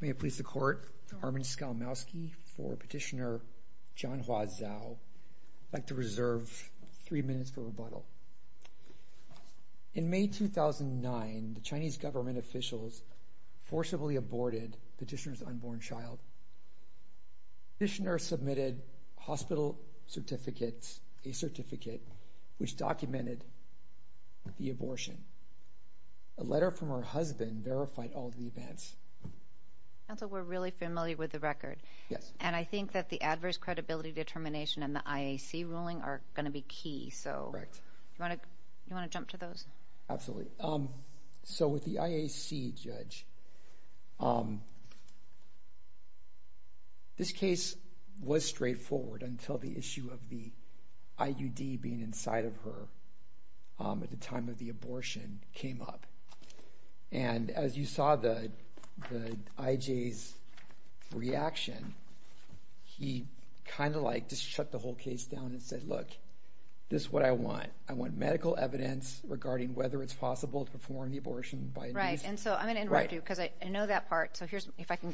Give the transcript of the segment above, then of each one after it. May it please the Court, Armin Skalmowski for Petitioner John Hua Zhao. I'd like to ask the judge to confirm that the petitioner forcibly aborted the petitioner's unborn child. Petitioner submitted hospital certificates, a certificate which documented the abortion. A letter from her husband verified all the events. Counsel, we're really familiar with the record. Yes. And I think that the adverse credibility determination and the IAC ruling are going to be key. So, do you want to jump to those? Absolutely. So, with the IAC judge, this case was straightforward until the issue of the IUD being inside of her at the time of the abortion came up. And as you saw the IJ's reaction, he kind of like just shut the whole case down and said, look, this is what I want. I want medical evidence regarding whether it's possible to perform the abortion. Right. And so I'm going to interrupt you because I know that part. So, if I can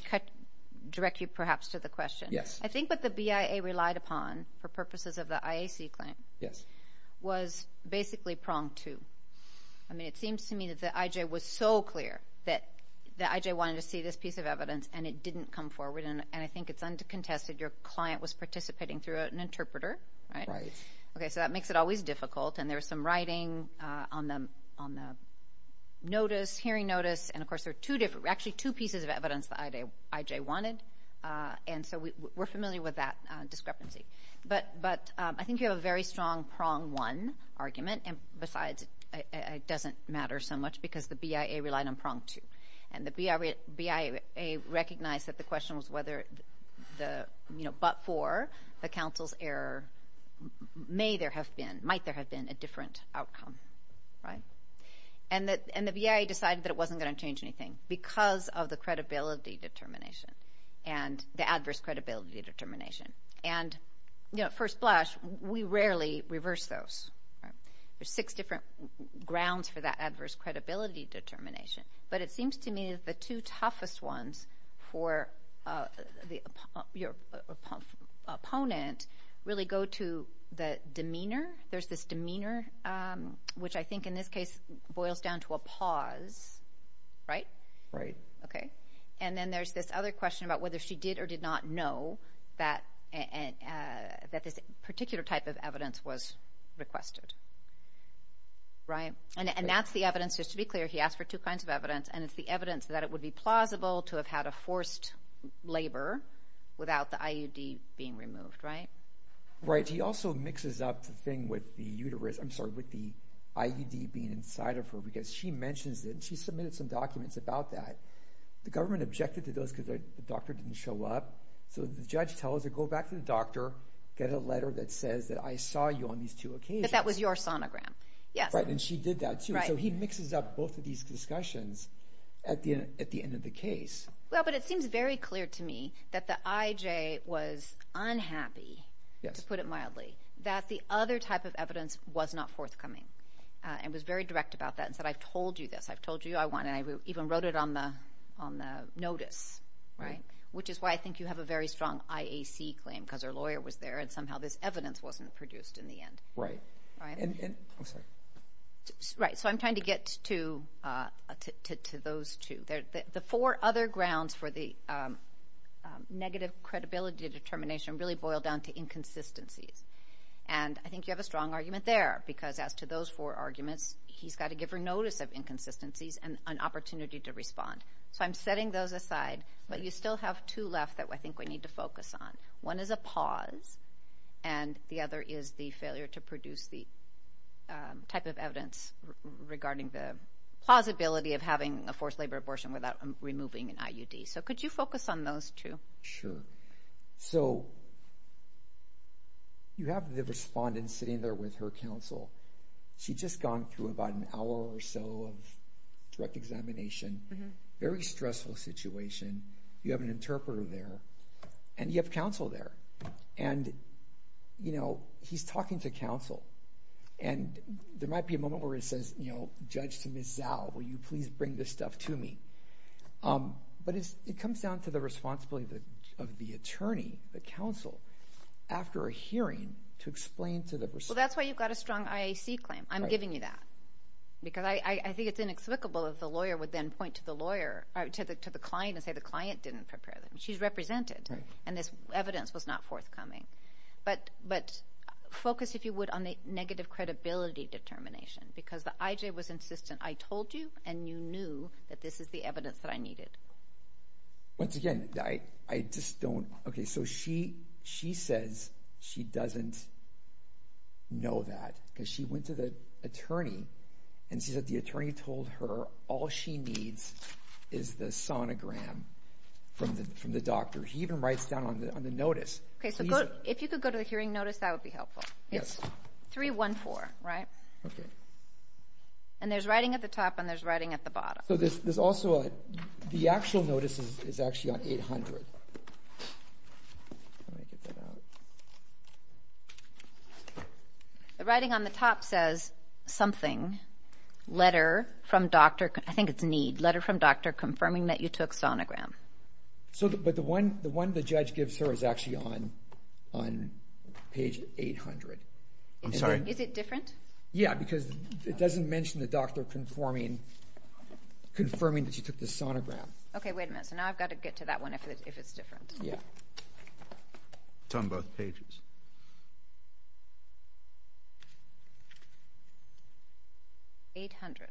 direct you perhaps to the question. Yes. I think what the BIA relied upon for purposes of the IAC claim was basically pronged to. I mean, it seems to me that the IJ was so clear that the IJ wanted to see this piece of evidence and it didn't come forward. And I think it's under contested your client was participating through an interpreter. Right. Okay. So, that makes it always difficult. And there was some writing on them on the notice, hearing notice. And of course, there are two different, actually two pieces of evidence that IJ wanted. And so, we're familiar with that discrepancy. But I think you have a very strong prong one argument. And besides, it doesn't matter so much because the BIA relied on was whether the, you know, but for the counsel's error, may there have been, might there have been a different outcome. Right. And the BIA decided that it wasn't going to change anything because of the credibility determination and the adverse credibility determination. And, you know, at first blush, we rarely reverse those. There's six different grounds for that adverse credibility determination. But it seems to me that the two toughest ones for your opponent really go to the demeanor. There's this demeanor, which I think in this case boils down to a pause. Right? Right. Okay. And then there's this other question about whether she did or did not know that this particular type of evidence was requested. Right. And that's the evidence, just to be clear, he asked for two kinds of evidence. And it's the evidence that it would be plausible to have had a forced labor without the IUD being removed. Right? Right. He also mixes up the thing with the uterus, I'm sorry, with the IUD being inside of her, because she mentions that she submitted some documents about that. The government objected to those because the doctor didn't show up. So, the judge tells her, go back to the doctor, get a letter that says that I saw you on these two occasions. That that was your sonogram. Yes. Right. And she did that too. So, he mixes up both of these discussions at the end of the case. Well, but it seems very clear to me that the IJ was unhappy, to put it mildly, that the other type of evidence was not forthcoming. And was very direct about that and said, I've told you this, I've told you I want, and I even wrote it on the notice. Right? Which is why I think you have a very strong IAC claim, because her lawyer was there and somehow this evidence wasn't produced in the end. Right. I'm sorry. Right. So, I'm trying to get to those two. The four other grounds for the negative credibility determination really boil down to inconsistencies. And I think you have a strong argument there, because as to those four arguments, he's got to give her notice of inconsistencies and an opportunity to respond. So, I'm setting those aside, but you still have two left that I think we need to focus on. One is a pause, and the other is the failure to produce the type of evidence regarding the plausibility of having a forced labor abortion without removing an IUD. So, could you focus on those two? Sure. So, you have the respondent sitting there with her counsel. She'd just gone through about an hour or so of direct examination. Very stressful situation. You have an interpreter there, and you have counsel there. And, you know, he's talking to counsel, and there might be a moment where he says, you know, Judge to Ms. Zao, will you please bring this stuff to me? But it comes down to the responsibility of the attorney, the counsel, after a hearing to explain to the client, you've got a strong IAC claim. I'm giving you that. Because I think it's inexplicable that the lawyer would then point to the client and say the client didn't prepare them. She's represented, and this evidence was not forthcoming. But focus, if you would, on the negative credibility determination, because the IJ was insistent. I told you, and you knew that this is the evidence that I needed. Once again, I just don't, okay, so she says she doesn't know that, because she went to the attorney, and she said the attorney told her all she needs is the sonogram from the doctor. He even writes down on the notice. Okay, so if you could go to the hearing notice, that would be helpful. It's 314, right? Okay. And there's writing at the top, and there's writing at the bottom. The actual notice is actually on 800. The writing on the top says something, letter from doctor, I think it's need, letter from doctor confirming that you took sonogram. So, but the one the judge gives her is actually on on page 800. I'm sorry, is it different? Yeah, because it doesn't mention the doctor conforming, confirming that you took the sonogram. Okay, wait a minute, so now I've got to get to that one, if it's different. Yeah. It's on both pages. 800.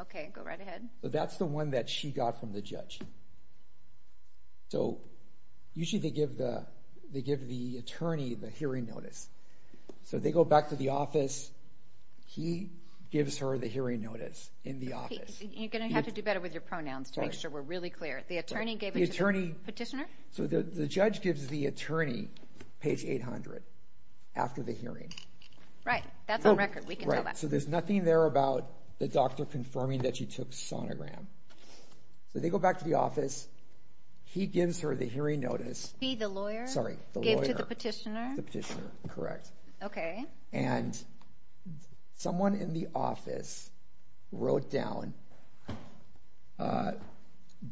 Okay, go right ahead. That's the one that she got from the judge. So, usually they give the attorney the hearing notice. So, they go back to the office, he gives her the hearing notice in the office. You're going to have to do better with your pronouns to make sure we're really clear. The attorney gave it to the petitioner? So, the judge gives the attorney page 800 after the hearing. Right, that's on record, we can tell that. So, there's nothing there about the doctor confirming that you took sonogram. So, they go back to the office, he gives her the hearing notice. He, the lawyer? Sorry, the lawyer. Gave it to the petitioner? The petitioner, correct. Okay. And someone in the office wrote down,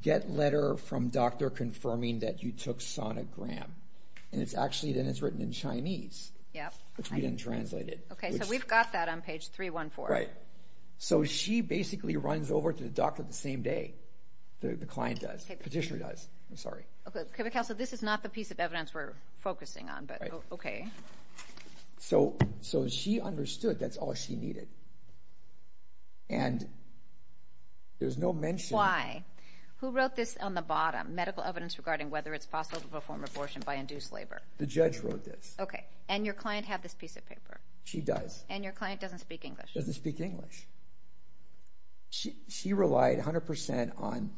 get letter from doctor confirming that you took sonogram. And it's actually, then it's written in Chinese, which we didn't translate it. Okay, so we've got that on page 314. Right. So, she basically runs over to the doctor the same day the client does, petitioner does. I'm sorry. Okay, but counsel, this is not the piece of evidence we're focusing on, but okay. So, she understood that's all she needed. And there's no mention. Why? Who wrote this on the bottom, medical evidence regarding whether it's possible to perform abortion by induced labor? The judge wrote this. Okay. And your client had this piece of paper? She does. And your client doesn't speak English? Doesn't speak English. She relied 100% on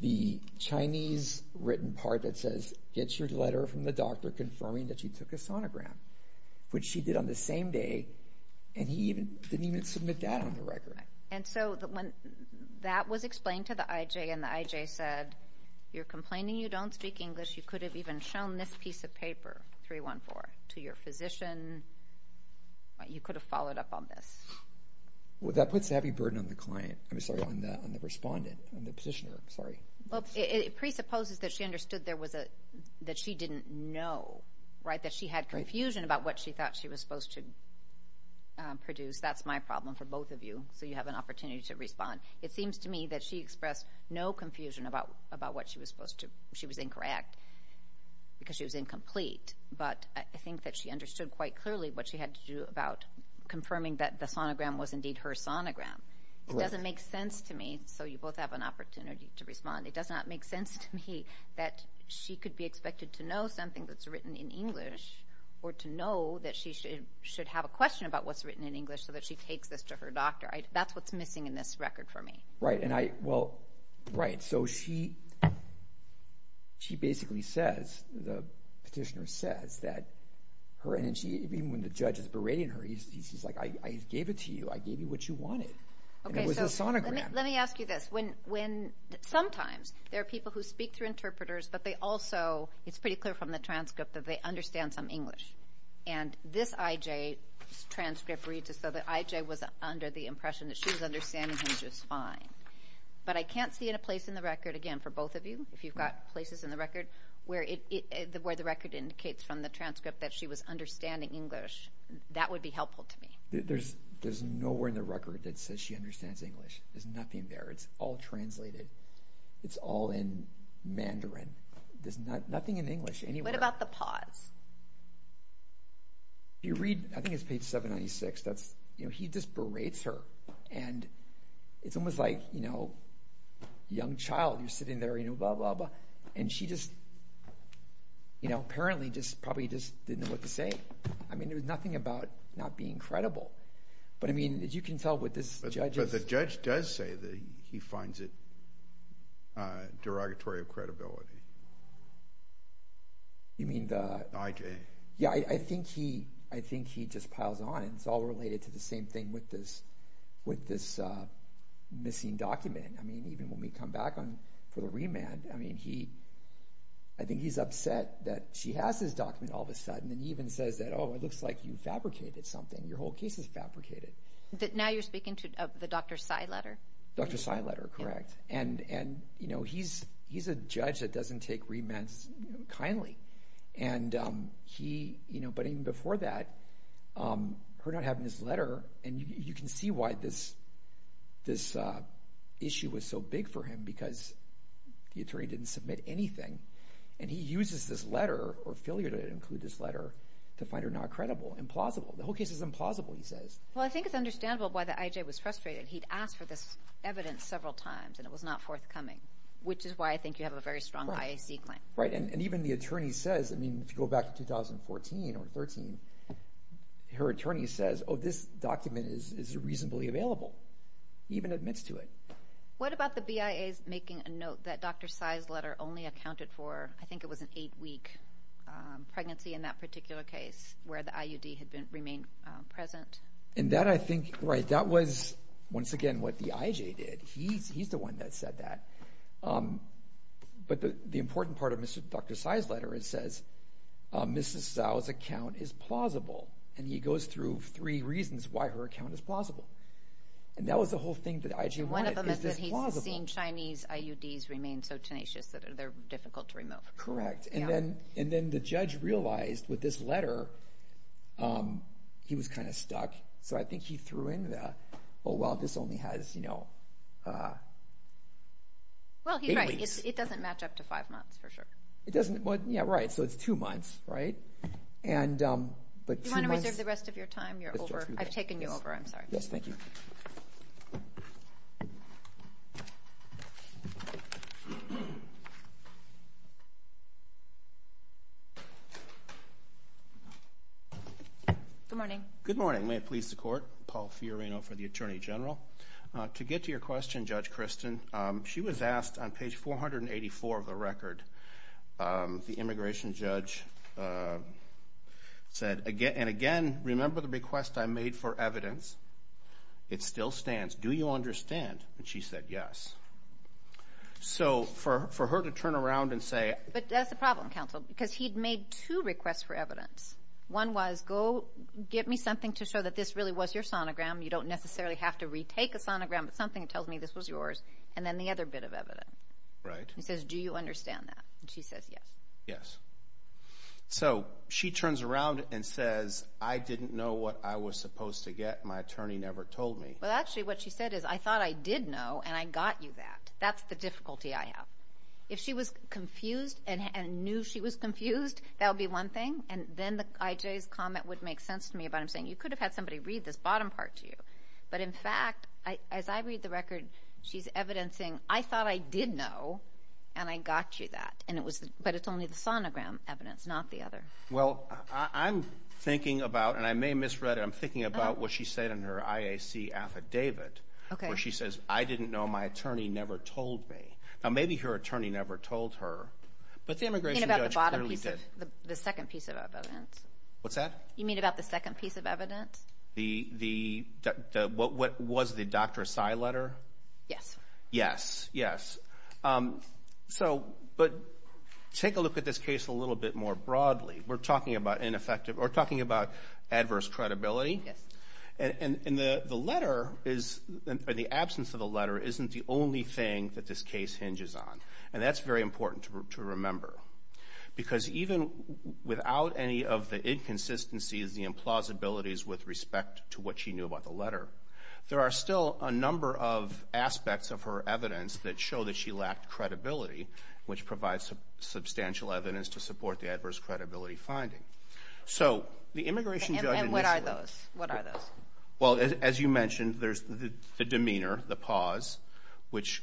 the Chinese written part that says, get your letter from the doctor confirming that you took a sonogram, which she did on the same day. And he didn't even submit that on the record. And so, when that was explained to the IJ and the IJ said, you're complaining you don't speak 314 to your physician, you could have followed up on this. That puts a heavy burden on the client. I'm sorry, on the respondent, on the petitioner. Sorry. Well, it presupposes that she understood that she didn't know, right? That she had confusion about what she thought she was supposed to produce. That's my problem for both of you. So, you have an opportunity to respond. It seems to me that she expressed no confusion about what she was incorrect because she was incomplete. But I think that she understood quite clearly what she had to do about confirming that the sonogram was indeed her sonogram. It doesn't make sense to me. So, you both have an opportunity to respond. It does not make sense to me that she could be expected to know something that's written in English or to know that she should have a question about what's written in English so that she takes this to her doctor. That's what's missing in this she basically says, the petitioner says, that her energy, even when the judge is berating her, he's like, I gave it to you. I gave you what you wanted. It was a sonogram. Let me ask you this. Sometimes, there are people who speak through interpreters, but they also, it's pretty clear from the transcript, that they understand some English. And this IJ transcript reads as though the IJ was under the impression that she was understanding him just fine. But I can't see in a place in the record, again, for both of you, if you've got places in the record where the record indicates from the transcript that she was understanding English, that would be helpful to me. There's nowhere in the record that says she understands English. There's nothing there. It's all translated. It's all in Mandarin. There's nothing in English. What about the pause? If you read, I think it's page 796, that's, you know, he just berates her and it's almost like, you know, young child, you're sitting there, you know, blah, blah, blah. And she just, you know, apparently just probably just didn't know what to say. I mean, there was nothing about not being credible. But I mean, as you can tell with this judge... But the judge does say that he finds it derogatory of credibility. You mean the... IJ. Yeah, I think he, I think he just piles on and it's all related to the same thing with this with this missing document. I mean, even when we come back on for the remand, I mean, he, I think he's upset that she has this document all of a sudden and even says that, oh, it looks like you fabricated something. Your whole case is fabricated. But now you're speaking to the Dr. Tsai letter. Dr. Tsai letter, correct. And, you know, he's a judge that doesn't take remands kindly. And he, you know, but even before that, her not having this letter, and you can see why this issue was so big for him because the attorney didn't submit anything. And he uses this letter or failure to include this letter to find her not credible, implausible. The whole case is implausible, he says. Well, I think it's understandable why the IJ was frustrated. He'd asked for this evidence several times and it was not forthcoming, which is why I think you have a very strong IAC claim. Right. And even the attorney says, I mean, if you go back to 2014 or 13, her attorney says, oh, this document is reasonably available. He even admits to it. What about the BIA's making a note that Dr. Tsai's letter only accounted for, I think it was an eight-week pregnancy in that particular case where the IUD had remained present? And that, I think, right, that was once again what the IJ did. He's the one that said that. But the important part of Dr. Tsai's letter, it says, Mrs. Zhao's account is plausible. And he goes through three reasons why her account is plausible. And that was the whole thing that IJ wanted. One of them is that he's seen Chinese IUDs remain so tenacious that they're difficult to remove. Correct. And then the judge realized with this letter, he was kind of stuck. So I think he threw in the, oh, well, this only has, you know... Well, he's right. It doesn't match up to five months for sure. It doesn't. Yeah, right. So it's two months, right? And... Do you want to reserve the rest of your time? You're over. I've taken you over. I'm sorry. Yes, thank you. Good morning. Good morning. May it please the court. Paul Fiorino for the Attorney General. To get to your question, Judge Kristen, she was asked on page 484 of the record, the immigration judge said, and again, remember the request I made for evidence? It still stands. Do you understand? And she said, yes. So for her to turn around and say... But that's the problem, counsel, because he'd made two requests for evidence. One was, go get me something to show that this really was your sonogram. You don't necessarily have to retake a sonogram, but something that tells me this was yours. And then the other bit of evidence. Right. He says, do you understand that? And she says, yes. Yes. So she turns around and says, I didn't know what I was supposed to get. My attorney never told me. Well, actually, what she said is, I thought I did know, and I got you that. That's the difficulty I have. If she was confused and knew she was confused, that would be one thing. And then the IJ's comment would make sense to me about him saying, you could have had somebody read this bottom part to you. But in fact, as I read the record, she's evidencing, I thought I did know, and I got you that. But it's only the sonogram evidence, not the other. Well, I'm thinking about, and I may misread it, I'm thinking about what she said in her IAC affidavit, where she says, I didn't know, my attorney never told me. Now, maybe her attorney never told her, but the immigration judge clearly did. You mean about the second piece of evidence? What's that? You mean about the second piece of evidence? What was the Dr. Asai letter? Yes. Yes, yes. So, but take a look at this case a little bit more broadly. We're talking about adverse credibility. Yes. And the letter, or the absence of the letter, isn't the only thing that this case hinges on. And that's very important to remember. Because even without any of the inconsistencies, the implausibilities with respect to what she knew about the letter, there are still a number of aspects of her evidence that show that she lacked credibility, which provides substantial evidence to support the adverse credibility finding. So, the immigration judge initially... And what are those? What are those? Well, as you mentioned, there's the demeanor, the pause, which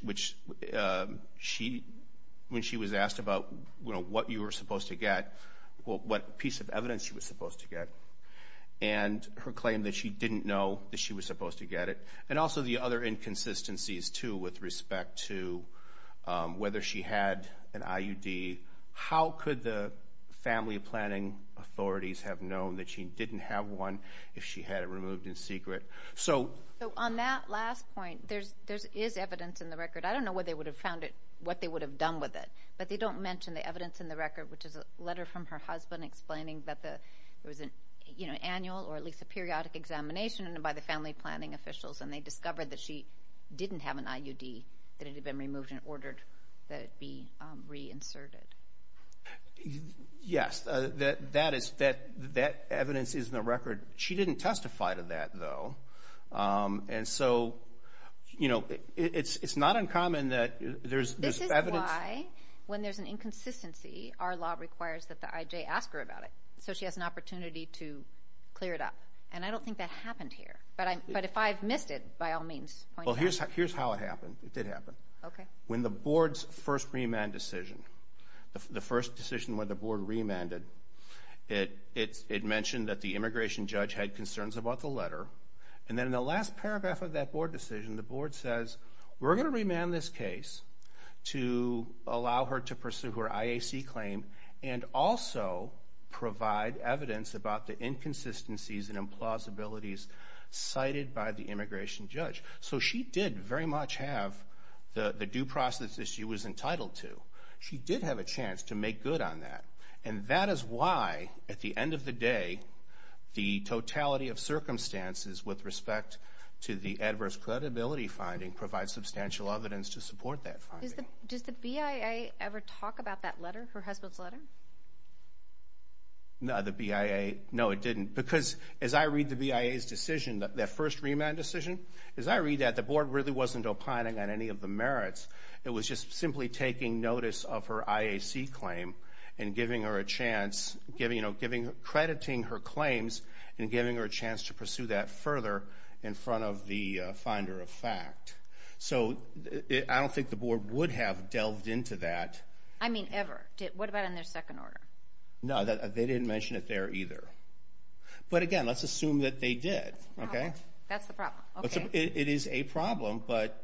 she, when she was asked about, you know, what you were supposed to get, what piece of evidence she was supposed to get, and her claim that she didn't know that she was supposed to get it. And also the other inconsistencies, too, with respect to whether she had an IUD. How could the family planning authorities have known that she didn't have one if she had it removed in secret? So, on that last point, there is evidence in the record. I don't know where they would have found it, what they would have done with it. But they don't mention the evidence in the record, which is a letter from her husband explaining that there was an, you know, annual or at least a periodic examination by the family planning officials. And they discovered that she didn't have an IUD, that it had been removed and ordered that it be reinserted. Yes, that is, that evidence is in the record. She didn't testify to that, though. And so, you know, it's not uncommon that there's evidence. This is why, when there's an inconsistency, our law requires that the IJ ask her about it, so she has an opportunity to clear it up. And I don't think that happened here. But if I've missed it, by all means, point it out. Well, here's how it happened. It did happen. Okay. In the board's first remand decision, the first decision when the board remanded, it mentioned that the immigration judge had concerns about the letter. And then in the last paragraph of that board decision, the board says, we're going to remand this case to allow her to pursue her IAC claim and also provide evidence about the inconsistencies and implausibilities cited by the immigration judge. So she did very much have the due process that she was entitled to. She did have a chance to make good on that. And that is why, at the end of the day, the totality of circumstances with respect to the adverse credibility finding provides substantial evidence to support that finding. Does the BIA ever talk about that letter, her husband's letter? No, the BIA, no, it didn't. Because as I read the BIA's decision, that first remand decision, as I read that, the board really wasn't opining on any of the merits. It was just simply taking notice of her IAC claim and giving her a chance, crediting her claims and giving her a chance to pursue that further in front of the finder of fact. So I don't think the board would have delved into that. I mean, ever. What about in their second order? No, they didn't mention it there either. But again, let's assume that they did. Okay. That's the problem. It is a problem, but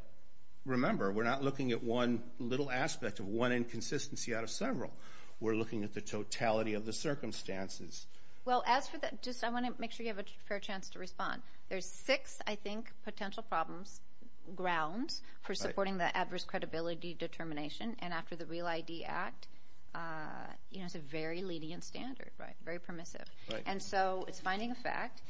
remember, we're not looking at one little aspect of one inconsistency out of several. We're looking at the totality of the circumstances. Well, as for that, just I want to make sure you have a fair chance to respond. There's six, I think, potential problems, grounds for supporting the adverse credibility determination. And after the REAL ID Act, you know, it's a very lenient standard, right? Very permissive. And so it's finding a fact,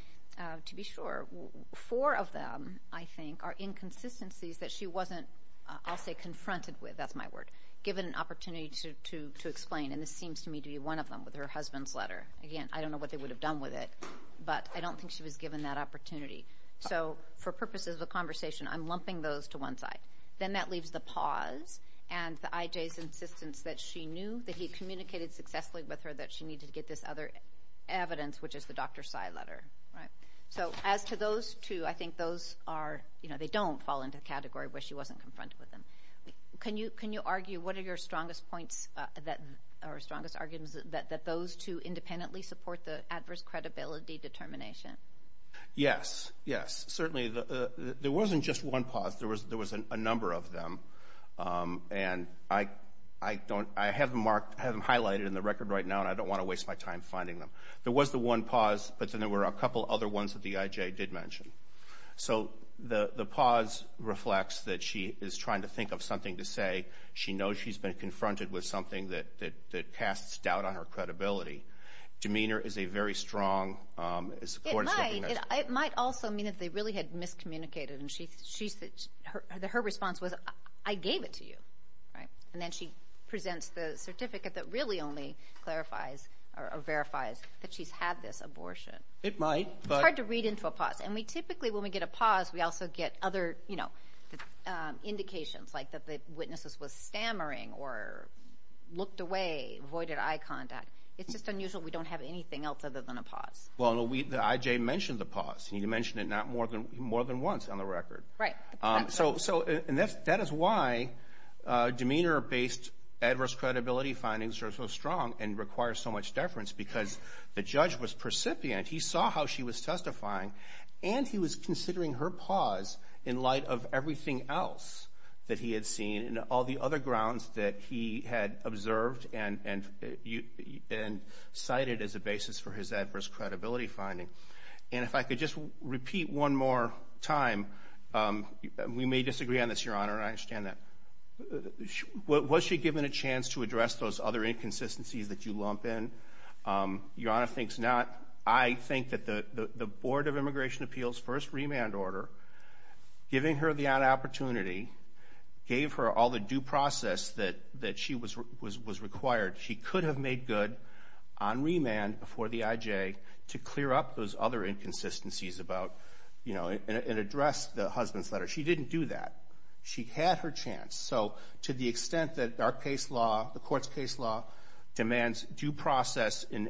to be sure. Four of them, I think, are inconsistencies that she wasn't, I'll say, confronted with, that's my word, given an opportunity to explain. And this seems to me to be one of them with her husband's letter. Again, I don't know what they would have done with it, but I don't think she was given that opportunity. So for purposes of a conversation, I'm lumping those to one side. Then that leaves the pause and the IJ's insistence that she knew that he communicated successfully with her that she needed to get this other evidence, which is the Dr. Tsai letter, right? So as to those two, I think those are, you know, they don't fall into the category where she wasn't confronted with them. Can you argue, what are your strongest points, or strongest arguments, that those two independently support the adverse credibility determination? Yes, yes. Certainly, there wasn't just one pause. There was a number of them. And I don't, I have them marked, I have them highlighted in the record right now, and I don't want to waste my time finding them. There was the one pause, but then there were a couple other ones that the IJ did mention. So the pause reflects that she is trying to think of something to say. She knows she's been confronted with something that casts doubt on her credibility. Demeanor is a very strong, as the court is looking at it. It might also mean that they really had miscommunicated, and she said, her response was, I gave it to you, right? And then she presents the certificate that really only clarifies, or verifies, that she's had this abortion. It might, but... It's hard to read into a pause. And we typically, when we get a pause, we also get other, you know, indications, like that the witnesses was stammering, or looked away, avoided eye contact. It's just unusual we don't have anything else other than a pause. Well, the IJ mentioned the pause, and you mentioned it more than once on the record. Right. So, and that is why demeanor-based adverse credibility findings are so strong, and require so much deference, because the judge was precipient. He saw how she was testifying, and he was considering her pause, in light of everything else that he had seen, and all the other grounds that he had observed, and cited as a basis for his adverse credibility finding. And if I could just repeat one more time, we may disagree on this, Your Honor, and I understand that. Was she given a chance to address those other inconsistencies that you lump in? Your Honor thinks not. I think that the Board of Immigration Appeals first remand order, giving her the opportunity, gave her all the due process that she was required, she could have made good on remand before the IJ, to clear up those other inconsistencies about, you know, and address the husband's letter. She didn't do that. She had her chance. So, to the extent that our case law, the court's case law, demands due process in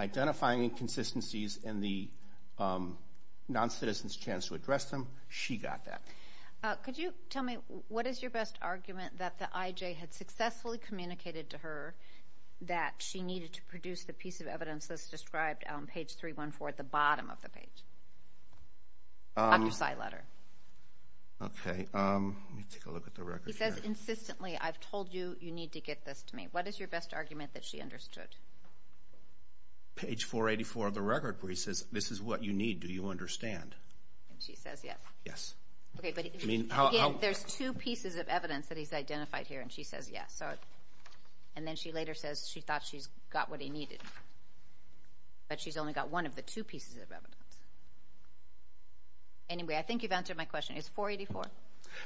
identifying inconsistencies, and the non-citizen's chance to address them, she got that. Could you tell me, what is your best argument, that the IJ had successfully communicated to her, that she needed to produce the piece of evidence that's described on page 314, at the bottom of the page? On her side letter. Okay, let me take a look at the record. He says, insistently, I've told you, you need to get this to me. What is your best argument that she understood? Page 484 of the record, where he says, this is what you need, do you understand? She says, yes. Yes. Okay, but again, there's two pieces of evidence that he's identified here, and she says, yes. And then she later says, she thought she's got what he needed. But she's only got one of the two pieces of evidence. Anyway, I think you've answered my question. It's 484?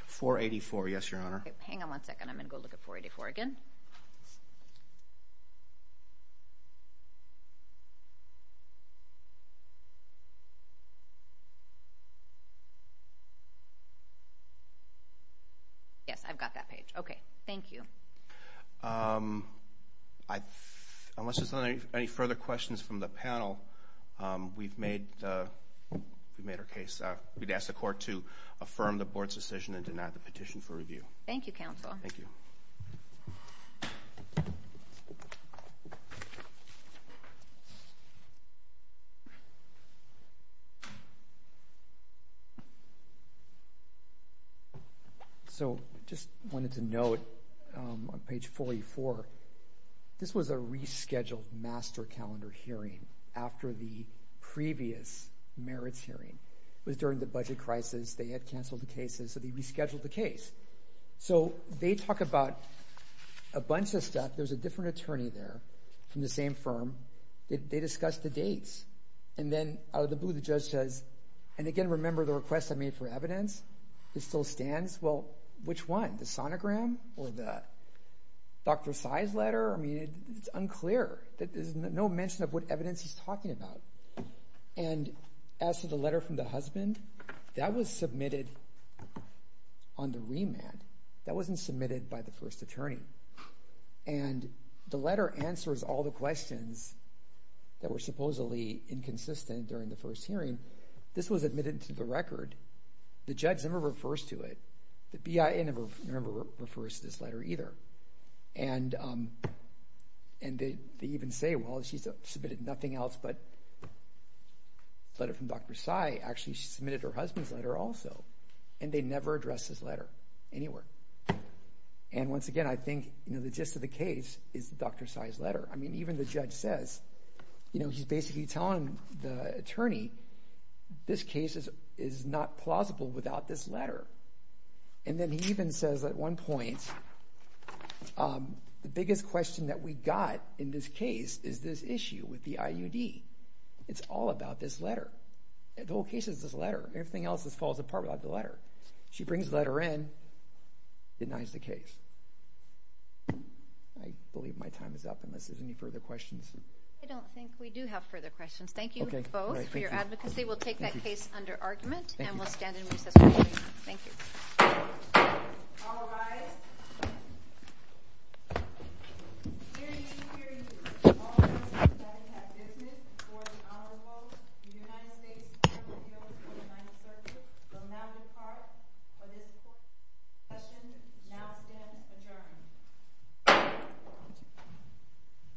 484, yes, your honor. Hang on one second, I'm going to go look at 484 again. Yes, I've got that page. Okay, thank you. Unless there's any further questions from the panel, we've made our case. We'd ask the court to affirm the board's decision and deny the petition for review. Thank you, counsel. Thank you. So, just wanted to note on page 484, this was a rescheduled master calendar hearing after the previous merits hearing. It was during the budget crisis. They had canceled the cases, so they rescheduled the case. So, they talk about a bunch of stuff. There's a different attorney there from the same firm. They discuss the dates. And then out of the blue, the judge says, and again, remember the request I made for evidence? It still stands. Well, which one? The sonogram or the Dr. Sai's letter? I mean, it's unclear. There's no mention of what evidence he's talking about. And as for the letter from the husband, that was submitted on the remand. That wasn't submitted by the first attorney. And the letter answers all the questions that were supposedly inconsistent during the first hearing. This was admitted to the record. The judge never refers to it. The BIA never, remember, refers to this letter either. And they even say, well, she's submitted nothing else but a letter from Dr. Sai. Actually, she submitted her husband's letter also. And they never addressed this letter anywhere. And once again, I think, you know, the gist of the case is Dr. Sai's letter. I mean, even the judge says, you know, he's basically telling the attorney, this case is not plausible without this letter. And then he even says at one point, the biggest question that we got in this case is this issue with the IUD. It's all about this letter. The whole case is this letter. Everything else just falls apart without the letter. She brings the letter in, denies the case. I believe my time is up unless there's any further questions. I don't think we do have further questions. Thank you both for your advocacy. We'll take that case under argument and we'll stand in recess. Thank you.